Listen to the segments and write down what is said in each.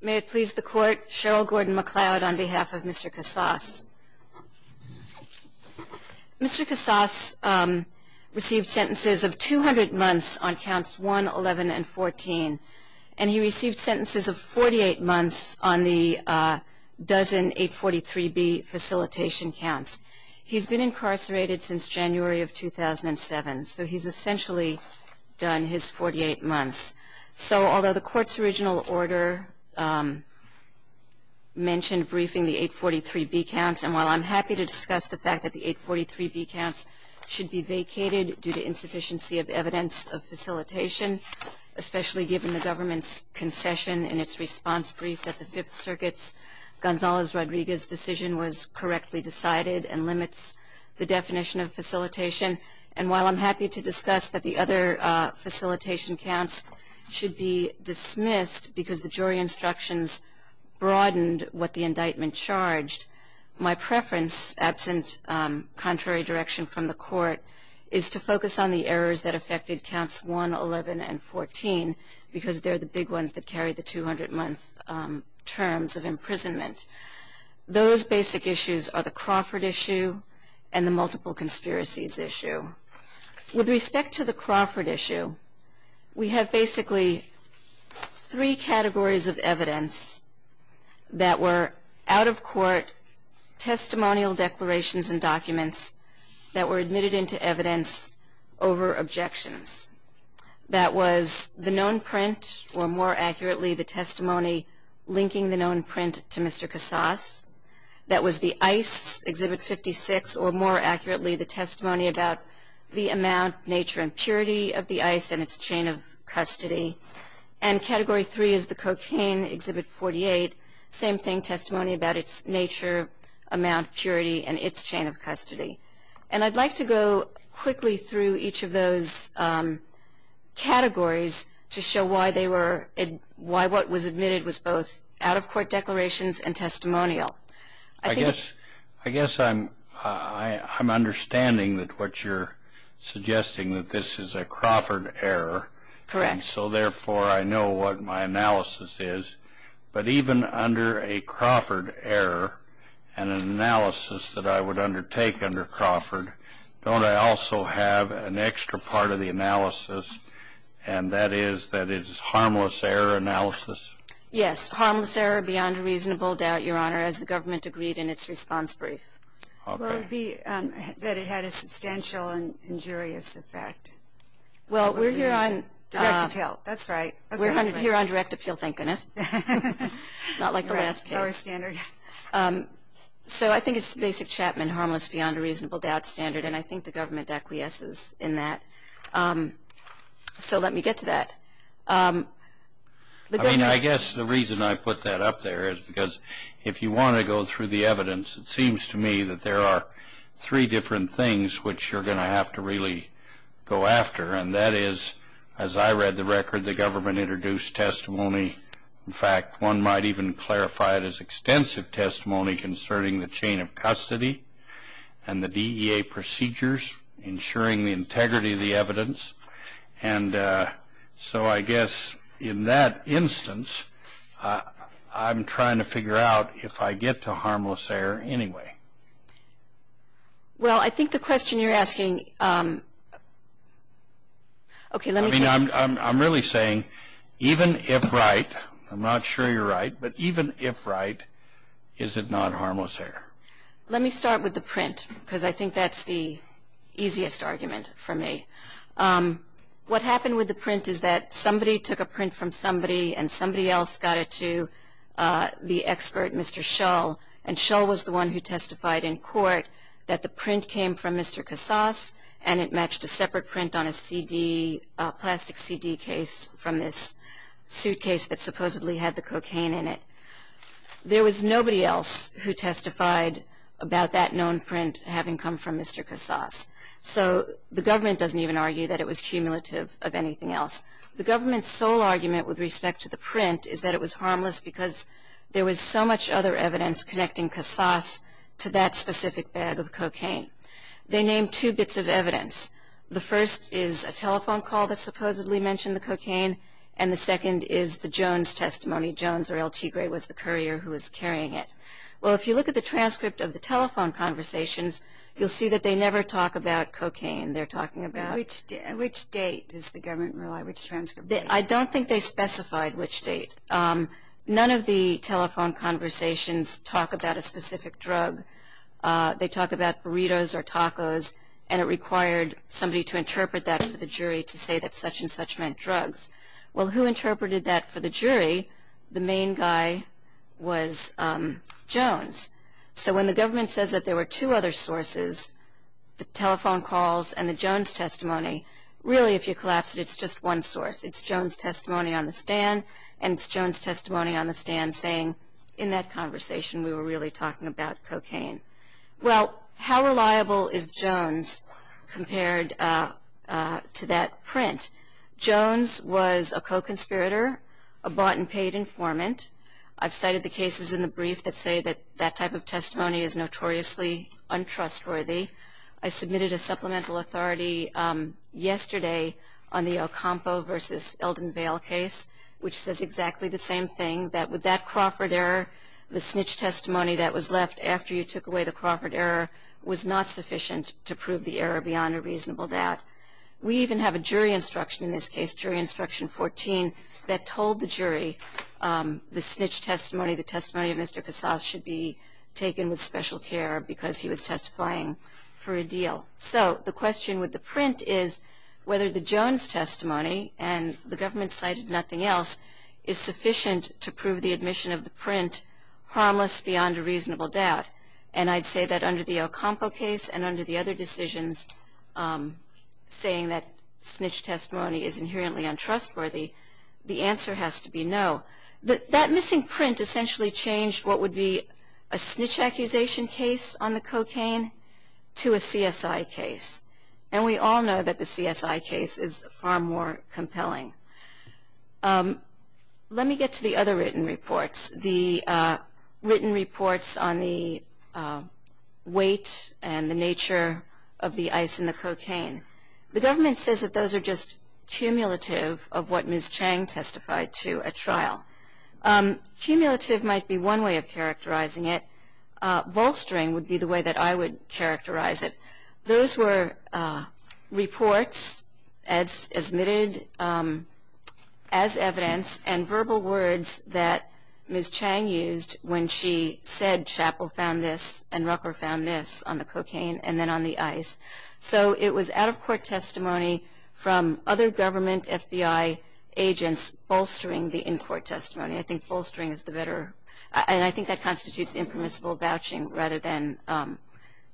May it please the court, Cheryl Gordon MacLeod on behalf of Mr. Casas. Mr. Casas received sentences of 200 months on counts 1, 11, and 14, and he received sentences of 48 months on the dozen 843B facilitation counts. He's been incarcerated since January of 2007, so he's essentially done his 48 months. So although the court's original order mentioned briefing the 843B counts, and while I'm happy to discuss the fact that the 843B counts should be vacated due to insufficiency of evidence of facilitation, especially given the government's concession in its response brief that the Fifth Circuit's Gonzales- Rodriguez decision was correctly decided and limits the definition of facilitation, and while I'm happy to discuss that the other facilitation counts should be dismissed because the jury instructions broadened what the indictment charged, my preference, absent contrary direction from the court, is to focus on the errors that affected counts 1, 11, and 14, because they're the big ones that carry the 200-month terms of imprisonment. Those basic issues are the Crawford issue and the multiple conspiracies issue. With respect to the we have basically three categories of evidence that were out-of-court testimonial declarations and documents that were admitted into evidence over objections. That was the known print, or more accurately, the testimony linking the known print to Mr. Casas. That was the ICE, Exhibit 56, or more accurately, the testimony about the amount, nature, and purity of the ICE and its chain of custody. And Category 3 is the cocaine, Exhibit 48, same thing, testimony about its nature, amount, purity, and its chain of custody. And I'd like to go quickly through each of those categories to show why they were, why what was admitted was both out-of-court declarations and testimonial. I guess, I guess I'm, I'm understanding that what you're suggesting that this is a Crawford error. Correct. So therefore I know what my analysis is, but even under a Crawford error and an analysis that I would undertake under Crawford, don't I also have an extra part of the analysis, and that is that it's harmless error analysis? Yes. Harmless error beyond a reasonable doubt, Your Honor, as the government agreed in its response brief. Okay. Well, it would be that it had a substantial and injurious effect. Well, we're here on... Direct appeal, that's right. We're here on direct appeal, thank goodness. Not like the last case. Our standard. So I think it's the basic Chapman harmless beyond a reasonable doubt standard, and I think the government acquiesces in that. So let me get to that. I mean, I guess the reason I put that up there is because if you want to go through the evidence, it seems to me that there are three different things which you're going to have to really go after, and that is, as I read the record, the government introduced testimony. In fact, one might even clarify it as extensive testimony concerning the chain of custody and the DEA procedures, ensuring the integrity of the evidence. And so I guess in that instance, I'm trying to figure out if I get to harmless error anyway. Well, I think the question you're asking... Okay, let me... I mean, I'm really saying even if right, I'm not sure you're right, but even if right, is it not harmless error? Let me start with the print, because I think that's the easiest argument for me. What happened with the print is that somebody took a print from somebody, and somebody else got it to the expert, Mr. Shull, and Shull was the one who testified in court that the print came from Mr. Casas, and it matched a separate print on a CD, plastic CD case, from this suitcase that supposedly had the cocaine in it. There was nobody else who testified about that known print having come from Mr. Casas. So the government doesn't even argue that it was cumulative of anything else. The government's sole argument with respect to the print is that it was harmless because there was so much other evidence connecting Casas to that specific bag of cocaine. They named two bits of evidence. The first is a telephone call that supposedly mentioned the cocaine, and the second is the Jones testimony. Jones, or L.T. Gray, was the courier who was carrying it. Well, if you look at the transcript of the telephone conversations, you'll see that they never talk about cocaine. They're talking about... Which date does the government rely, which transcript? I don't think they specified which date. None of the telephone conversations talk about a specific drug. They talk about burritos or tacos, and it required somebody to interpret that for the jury to say that such and such meant drugs. Well, who interpreted that for the jury? The main guy was Jones. So when the government says that there were two other sources, the telephone calls and the Jones testimony, really if you collapse it, it's just one source. It's Jones testimony on the stand, and it's Jones testimony on the stand saying, in that conversation we were really talking about cocaine. Well, how reliable is Jones compared to that print? Jones was a co-conspirator, a bought-and-paid informant. I've cited the cases in the brief that say that that type of testimony is notoriously untrustworthy. I submitted a supplemental authority yesterday on the Ocampo v. Eldon Vale case, which says exactly the same thing, that with that Crawford error, the snitch testimony that was left after you took away the Crawford error was not sufficient to prove the error beyond a reasonable doubt. We even have a jury instruction in this case, jury instruction 14, that told the jury the snitch testimony, the testimony of Mr. Casas should be taken with special care because he was testifying for a deal. So the question with the print is whether the Jones testimony, and the government cited nothing else, is sufficient to prove the admission of the print harmless beyond a reasonable doubt. And I'd say that under the Ocampo case and under the other decisions saying that snitch testimony is inherently untrustworthy, the answer has to be no. That missing print essentially changed what would be a snitch accusation case on the cocaine to a CSI case. And we all know that the CSI case is far more compelling. Let me get to the other written reports. The written reports on the weight and the nature of the ice in the cocaine. The government says that those are just cumulative of what Ms. Chang testified to at trial. Cumulative might be one way of characterizing it. Bolstering would be the way that I would characterize it. Those were reports as admitted as evidence and verbal words that Ms. Chang used when she said Chappell found this and Rucker found this on the cocaine and then on the ice. So it was out-of-court testimony from other government FBI agents bolstering the in-court testimony. I think bolstering is the better, and I think that constitutes impermissible vouching rather than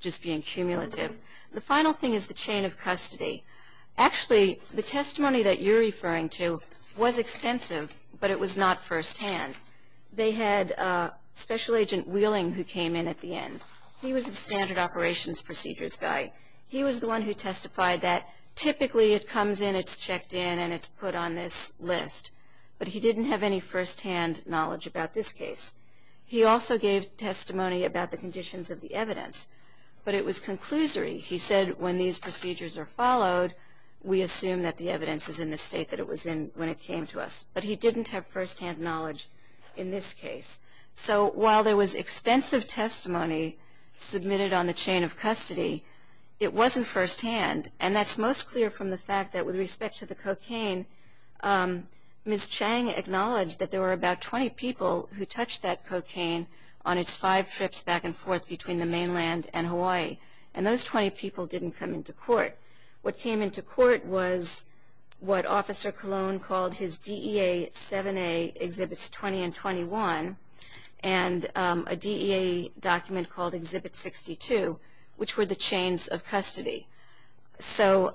just being cumulative. The final thing is the chain of custody. Actually, the testimony that you're referring to was extensive, but it was not firsthand. They had a special agent Wheeling who came in at the end. He was the standard operations procedures guy. He was the one who testified that typically it comes in, it's checked in, and it's put on this list. But he didn't have any firsthand knowledge about this case. He also gave testimony about the conditions of the evidence, but it was conclusory. He said when these procedures are followed, we assume that the evidence is in the state that it was in when it came to us. But he didn't have firsthand knowledge in this case. So while there was extensive testimony submitted on the chain of custody, it wasn't firsthand. And that's most clear from the fact that with respect to the cocaine, Ms. Chang acknowledged that there were about 20 people who touched that cocaine on its five trips back and forth between the time it came into court. What came into court was what Officer Cologne called his DEA 7A Exhibits 20 and 21, and a DEA document called Exhibit 62, which were the chains of custody. So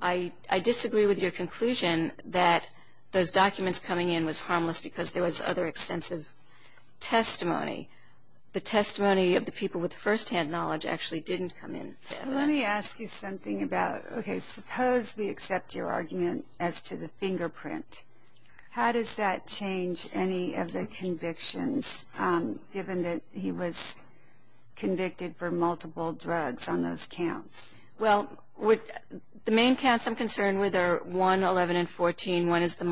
I disagree with your conclusion that those documents coming in was harmless because there was other extensive testimony. The testimony of the people with firsthand knowledge actually didn't come in to evidence. Let me ask you something about, okay, suppose we accept your argument as to the fingerprint. How does that change any of the convictions, given that he was convicted for multiple drugs on those counts? Well, the main counts I'm concerned with are 1, 11, and 14. One is the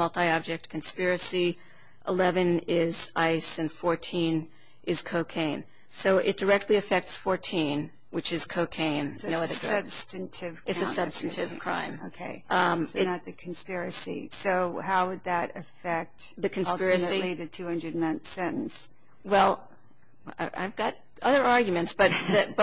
So it directly affects 14, which is cocaine. So it's a substantive count. It's a substantive crime. Okay. So not the conspiracy. So how would that affect, ultimately, the 200-month sentence? Well, I've got other arguments, but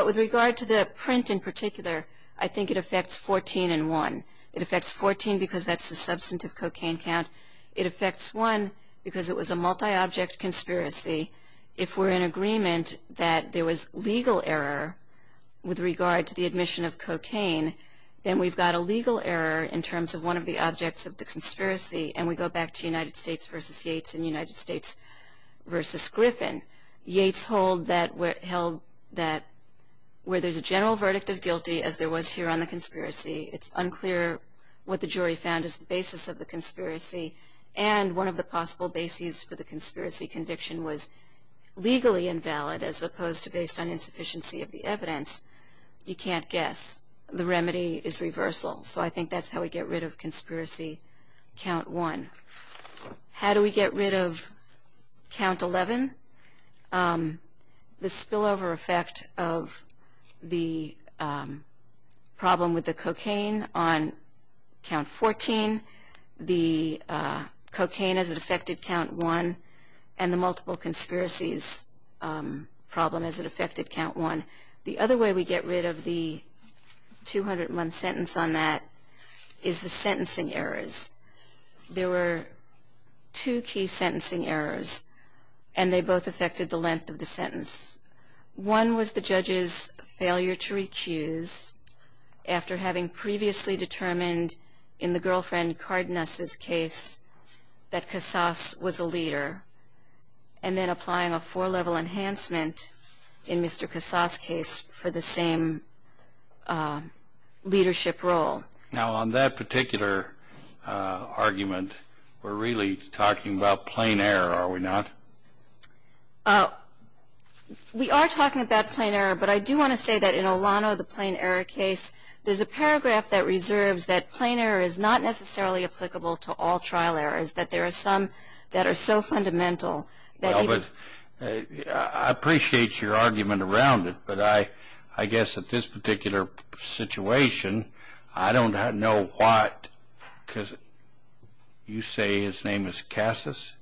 with regard to the print in particular, I think it affects 14 and 1. It affects 14 because that's a substantive cocaine count. It affects 1 because it was a multi-object conspiracy. If we're in favor that there was legal error with regard to the admission of cocaine, then we've got a legal error in terms of one of the objects of the conspiracy, and we go back to United States v. Yates and United States v. Griffin. Yates held that where there's a general verdict of guilty, as there was here on the conspiracy, it's unclear what the jury found as the basis of the conspiracy, and one of the possible bases for the conspiracy conviction was legally invalid as opposed to based on insufficiency of the evidence. You can't guess. The remedy is reversal. So I think that's how we get rid of conspiracy count 1. How do we get rid of count 11? The spillover effect of the problem with the cocaine on count 14, the cocaine as it affected count 1, and the multiple conspiracies problem as it affected count 1. The other way we get rid of the 200-month sentence on that is the sentencing errors. There were two key sentencing errors, and they both affected the length of the sentence. One was the judge's failure to recuse after having previously determined in the girlfriend Cardenas' case that Casas was a leader, and then applying a four-level enhancement in Mr. Casas' case for the same leadership role. Now on that particular argument, we're really talking about plain error, are we not? We are talking about plain error, but I do want to say that in Olano, the plain error case, there's a paragraph that reserves that plain error is not necessarily applicable to all trial errors, that there are some that are so fundamental that even... I appreciate your argument around it, but I guess at this particular situation, I don't know what, because you say his name is Casas?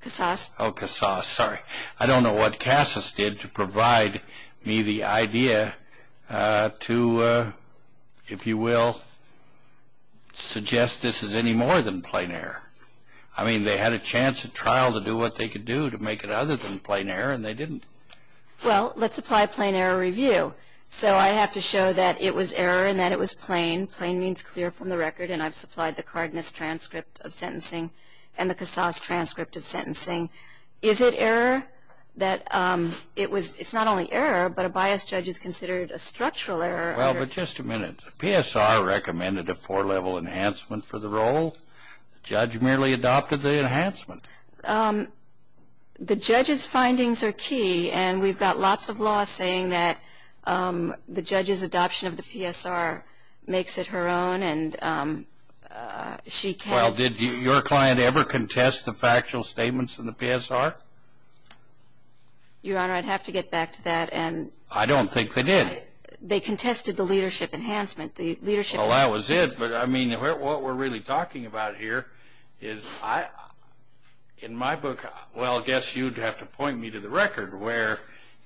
Casas. Oh, Casas, sorry. I don't know what Casas did to provide me the idea to if you will, suggest this is any more than plain error. I mean, they had a chance at trial to do what they could do to make it other than plain error, and they didn't. Well, let's apply a plain error review. So I have to show that it was error and that it was plain. Plain means clear from the record, and I've supplied the Cardenas transcript of sentencing and the Casas transcript of sentencing. Is it error that it was, it's not only error, but a biased judge is PSR recommended a four-level enhancement for the role. The judge merely adopted the enhancement. The judge's findings are key, and we've got lots of law saying that the judge's adoption of the PSR makes it her own, and she can't... Well, did your client ever contest the factual statements in the PSR? Your Honor, I'd have to get back to that, and... I don't think they did. They contested the leadership enhancement. Well, that was it, but I mean, what we're really talking about here is, in my book, well, I guess you'd have to point me to the record where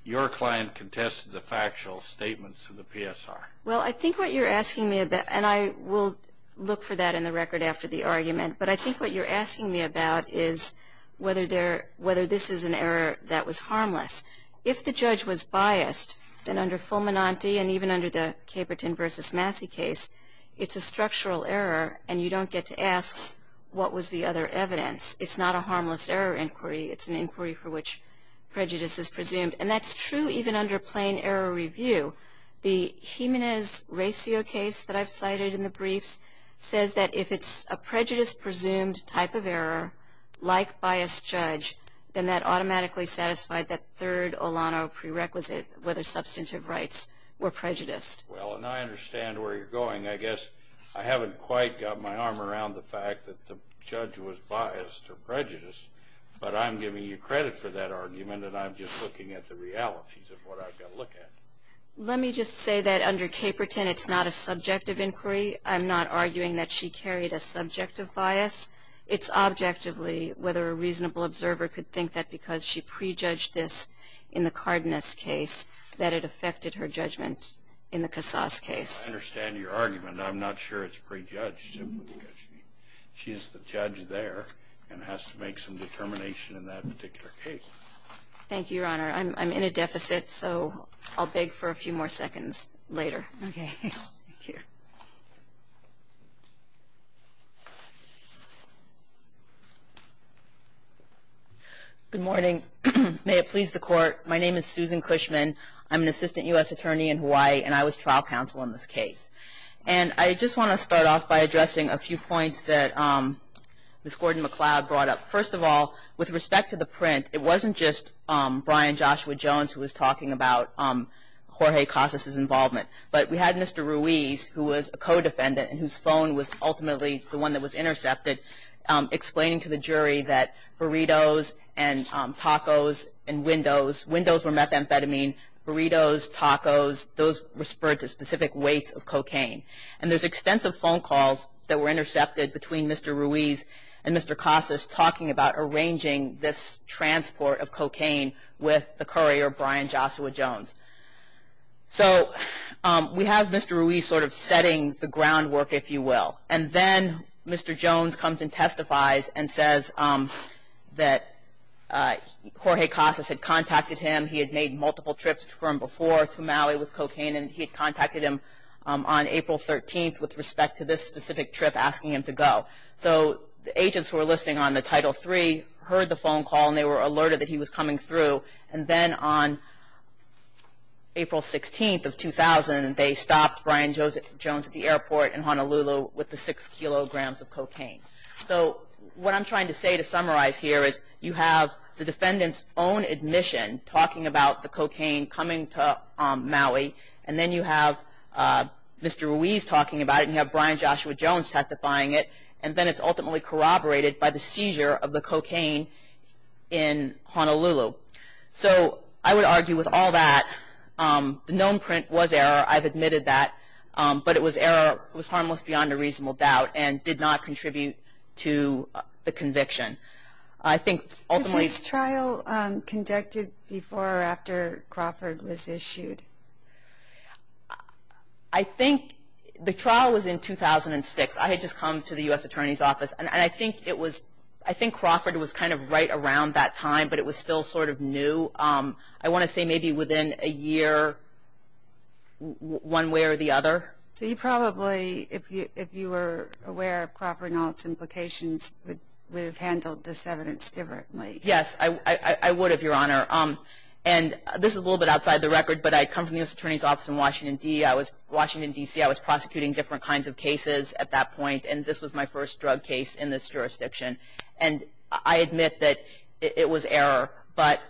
your client contested the factual statements of the PSR. Well, I think what you're asking me about, and I will look for that in the record after the argument, but I think what you're asking me about is whether this is an error that was harmless. If the judge was biased, then under Fulminante, and even under the Caperton v. Massey case, it's a structural error, and you don't get to ask what was the other evidence. It's not a harmless error inquiry. It's an inquiry for which prejudice is presumed, and that's true even under plain error review. The Jimenez-Racio case that I've cited in the briefs says that if it's a prejudice-presumed type of error, like biased judge, then that automatically satisfied that third Olano prerequisite, whether substantive rights were prejudiced. Well, and I understand where you're going. I guess I haven't quite got my arm around the fact that the judge was biased or prejudiced, but I'm giving you credit for that argument, and I'm just looking at the realities of what I've got to look at. Let me just say that under Caperton, it's not a subjective inquiry. I'm not arguing that she carried a subjective bias. It's objectively whether a reasonable observer could think that because she prejudged this in the Cardenas case that it affected her judgment in the Casas case. I understand your argument. I'm not sure it's prejudged simply because she is the judge there and has to make some determination in that particular case. Thank you, Your Honor. I'm in a deficit, so I'll beg for a few more seconds later. Okay. Thank you. Good morning. May it please the Court, my name is Susan Cushman. I'm an assistant U.S. attorney in Hawaii, and I was trial counsel in this case. And I just want to start off by addressing a few points that Ms. Gordon-McLeod brought up. First of all, with respect to the print, it wasn't just Brian Joshua Jones who was talking about Jorge Casas' involvement, but we had Mr. Ruiz, who was a co-defendant, and whose phone was ultimately the one that was intercepted, explaining to the jury that burritos and tacos and windows, windows were methamphetamine, burritos, tacos, those were spurred to specific weights of cocaine. And there's extensive phone calls that were talking about arranging this transport of cocaine with the courier, Brian Joshua Jones. So, we have Mr. Ruiz sort of setting the groundwork, if you will. And then Mr. Jones comes and testifies and says that Jorge Casas had contacted him, he had made multiple trips from before to Maui with cocaine, and he had contacted him on April 13th with respect to this specific trip asking him to go. So, the agents who were listening on the Title III heard the phone call and they were alerted that he was coming through. And then on April 16th of 2000, they stopped Brian Jones at the airport in Honolulu with the six kilograms of cocaine. So, what I'm trying to say to summarize here is you have the defendant's own admission talking about the cocaine coming to Maui, and then you have Mr. Ruiz talking about it, and you have Brian Joshua Jones testifying it, and then it's ultimately corroborated by the seizure of the cocaine in Honolulu. So, I would argue with all that, the known print was error, I've admitted that, but it was error, it was harmless beyond a reasonable doubt, and did not contribute to the conviction. I think ultimately... Conducted before or after Crawford was issued? I think the trial was in 2006. I had just come to the U.S. Attorney's Office, and I think it was, I think Crawford was kind of right around that time, but it was still sort of new. I want to say maybe within a year, one way or the other. So, you probably, if you were aware of Crawford and all its implications, would have handled this evidence differently? Yes, I would have, Your Honor, and this is a little bit outside the record, but I come from the U.S. Attorney's Office in Washington, D.C. I was prosecuting different kinds of cases at that point, and this was my first drug case in this jurisdiction, and I admit that it was error, but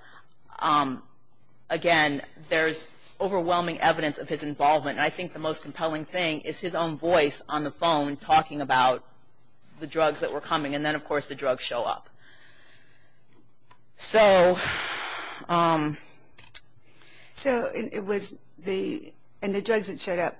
again, there's overwhelming evidence of his involvement, and I think the most compelling thing is his own voice on the phone talking about the drugs that were coming, and then of course the drugs show up. So, it was the, and the drugs that showed up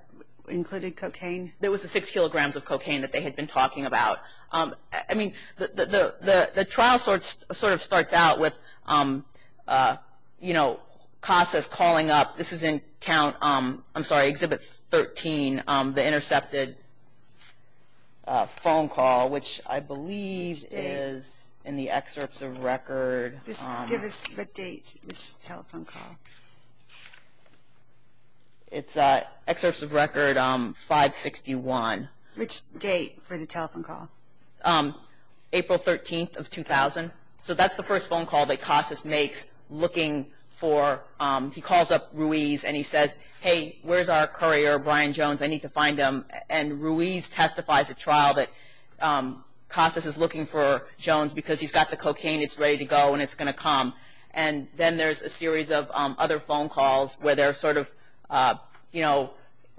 included cocaine? There was the six kilograms of cocaine that they had been talking about. I mean, the trial sort of starts out with, you know, Casas calling up, this is in count, I'm sorry, Exhibit 13, the intercepted phone call, which I believe is in the excerpts of record. Just give us the date of this telephone call. It's excerpts of record 561. Which date for the telephone call? April 13th of 2000, so that's the first phone call that Casas makes looking for, he calls up Ruiz and he says, hey, where's our courier, Brian Jones, I was looking for Jones because he's got the cocaine, it's ready to go and it's going to come. And then there's a series of other phone calls where they're sort of, you know,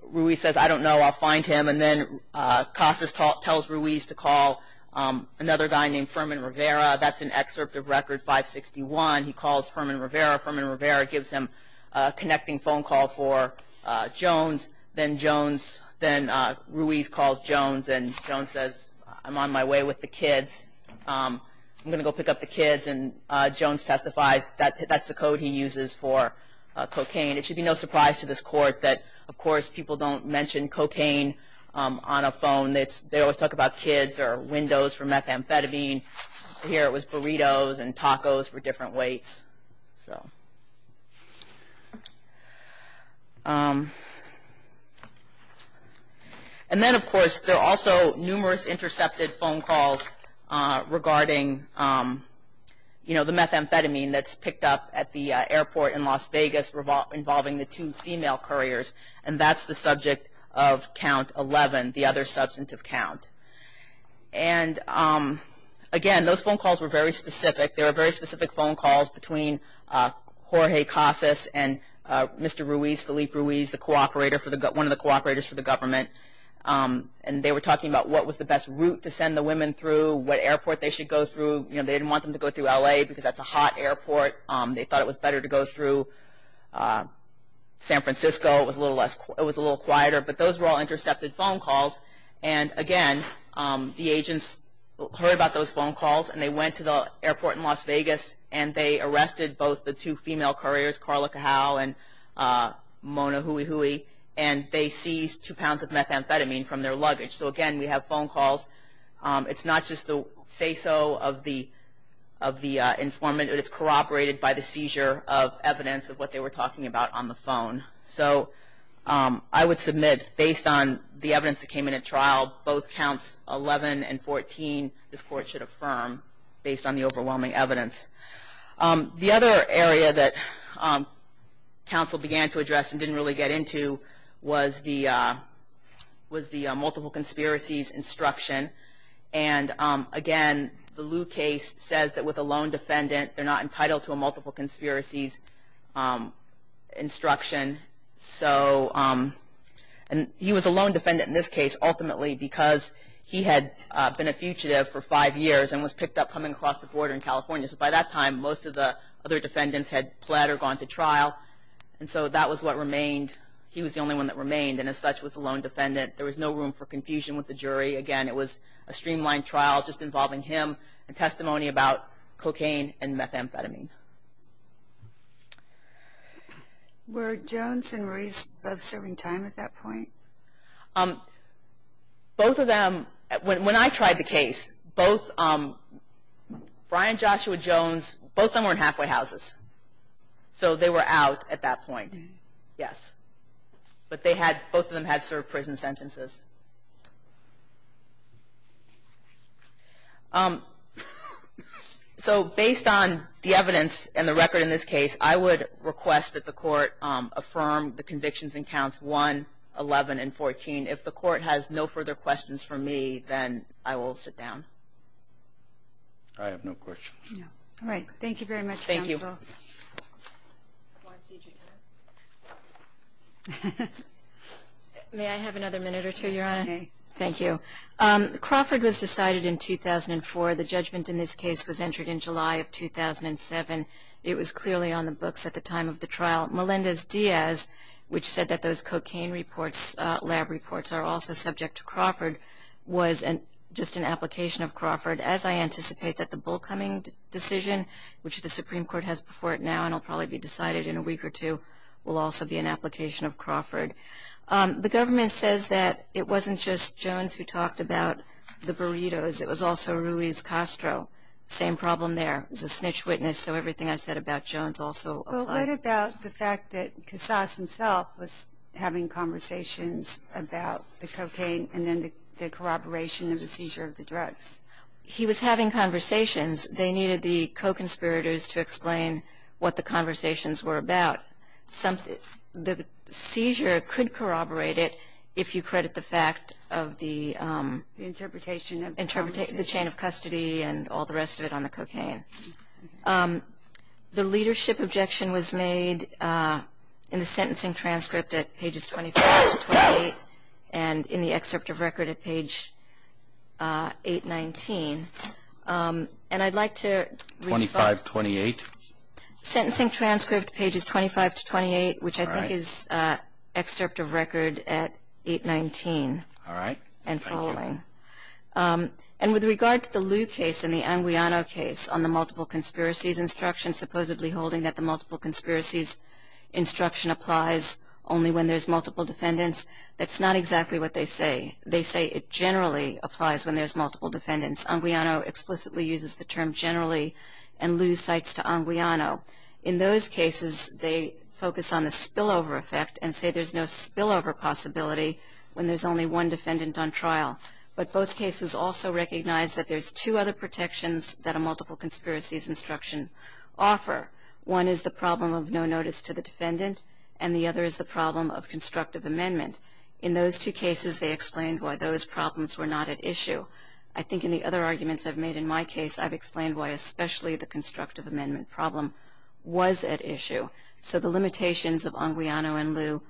Ruiz says, I don't know, I'll find him, and then Casas tells Ruiz to call another guy named Furman Rivera, that's an excerpt of record 561, he calls Furman Rivera, Furman Rivera gives him a connecting phone call for Jones, then Jones, then Ruiz calls Jones and Jones says, I'm on my way with the kids, I'm going to go pick up the kids, and Jones testifies, that's the code he uses for cocaine. It should be no surprise to this court that, of course, people don't mention cocaine on a phone, they always talk about kids or windows for methamphetamine, here it was burritos and tacos for different weights. And then, of course, there are also numerous intercepted phone calls regarding, you know, the methamphetamine that's picked up at the airport in Las Vegas involving the two female couriers, and that's the subject of count 11, the other substantive count. And again, those phone calls were very specific, there were very specific phone calls between Jorge Casas and Mr. Ruiz, Felipe Ruiz, the cooperator, one of the cooperators for the government, and they were talking about what was the best route to send the women through, what airport they should go through, you know, they didn't want them to go through L.A. because that's a hot airport, they thought it was better to go through San Francisco, it was a little quieter, but those were all intercepted phone calls. And again, the agents heard about those phone calls and they went to the court, and they arrested both the two female couriers, Carla Cajal and Mona Huihui, and they seized two pounds of methamphetamine from their luggage. So again, we have phone calls, it's not just the say-so of the informant, it's corroborated by the seizure of evidence of what they were talking about on the phone. So I would submit, based on the evidence that came in at trial, both counts 11 and 14, this court should affirm, based on the overwhelming evidence. The other area that counsel began to address and didn't really get into was the multiple conspiracies instruction. And again, the Liu case says that with a lone defendant, they're not entitled to a multiple conspiracies instruction, and he was a lone defendant in this case, ultimately because he had been a fugitive for five years and was picked up coming across the border in California. So by that time, most of the other defendants had pled or gone to trial, and so that was what remained. He was the only one that remained, and as such was a lone defendant. There was no room for confusion with the jury. Again, it was a streamlined trial just involving him and testimony about cocaine and methamphetamine. Were Jones and Ruiz both serving time at that point? Both of them, when I tried the case, both Brian and Joshua Jones, both of them were in halfway houses. So they were out at that point, yes. But they had, both of them had served prison sentences. So based on the evidence and the record in this case, I would request that the court affirm the convictions and counts 1, 11, and 14. If the court has no further questions for me, then I will sit down. I have no questions. All right. Thank you very much, counsel. Thank you. May I have another minute or two, Your Honor? Thank you. Crawford was decided in 2004. The judgment in this case was entered in July of 2007. It was clearly on the books at the time of the trial. Melendez-Diaz, which said that those cocaine reports, lab reports, are also subject to Crawford, was just an application of Crawford. As I anticipate that the Bull Cumming decision, which the Supreme Court has before it now and will probably be decided in a week or two, will also be an application of Crawford. The government says that it wasn't just Jones who talked about the burritos. It was also Ruiz Castro. Same problem there. He's a snitch witness, so everything I said about Jones also applies. What about the fact that Casas himself was having conversations about the cocaine and then the corroboration of the seizure of the drugs? He was having conversations. They needed the co-conspirators to explain what the conversations were about. The seizure could corroborate it if you credit the fact of the interpretation of custody and all the rest of it on the cocaine. The leadership objection was made in the sentencing transcript at pages 25 to 28 and in the excerpt of record at page 819. And I'd like to respond. 25, 28? Sentencing transcript pages 25 to 28, which I think is excerpt of record at 819 and following. And with regard to the Lew case and the Anguiano case on the multiple conspiracies instruction, supposedly holding that the multiple conspiracies instruction applies only when there's multiple defendants, that's not exactly what they say. They say it generally applies when there's multiple defendants. Anguiano explicitly uses the term generally and Lew cites to Anguiano. In those cases, they focus on the spillover effect and say there's no spillover possibility when there's only one defendant on trial. But both cases also recognize that there's two other protections that a multiple conspiracies instruction offer. One is the problem of no notice to the defendant and the other is the problem of constructive amendment. In those two cases, they explained why those problems were not at issue. I think in the other arguments I've made in my case, I've explained why especially the constructive amendment problem was at issue. So the limitations of Anguiano and Lew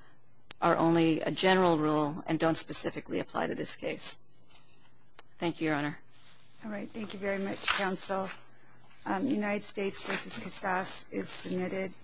are only a general rule and don't specifically apply to this case. Thank you, Your Honor. All right. Thank you very much, counsel. United States v. Cassas is submitted.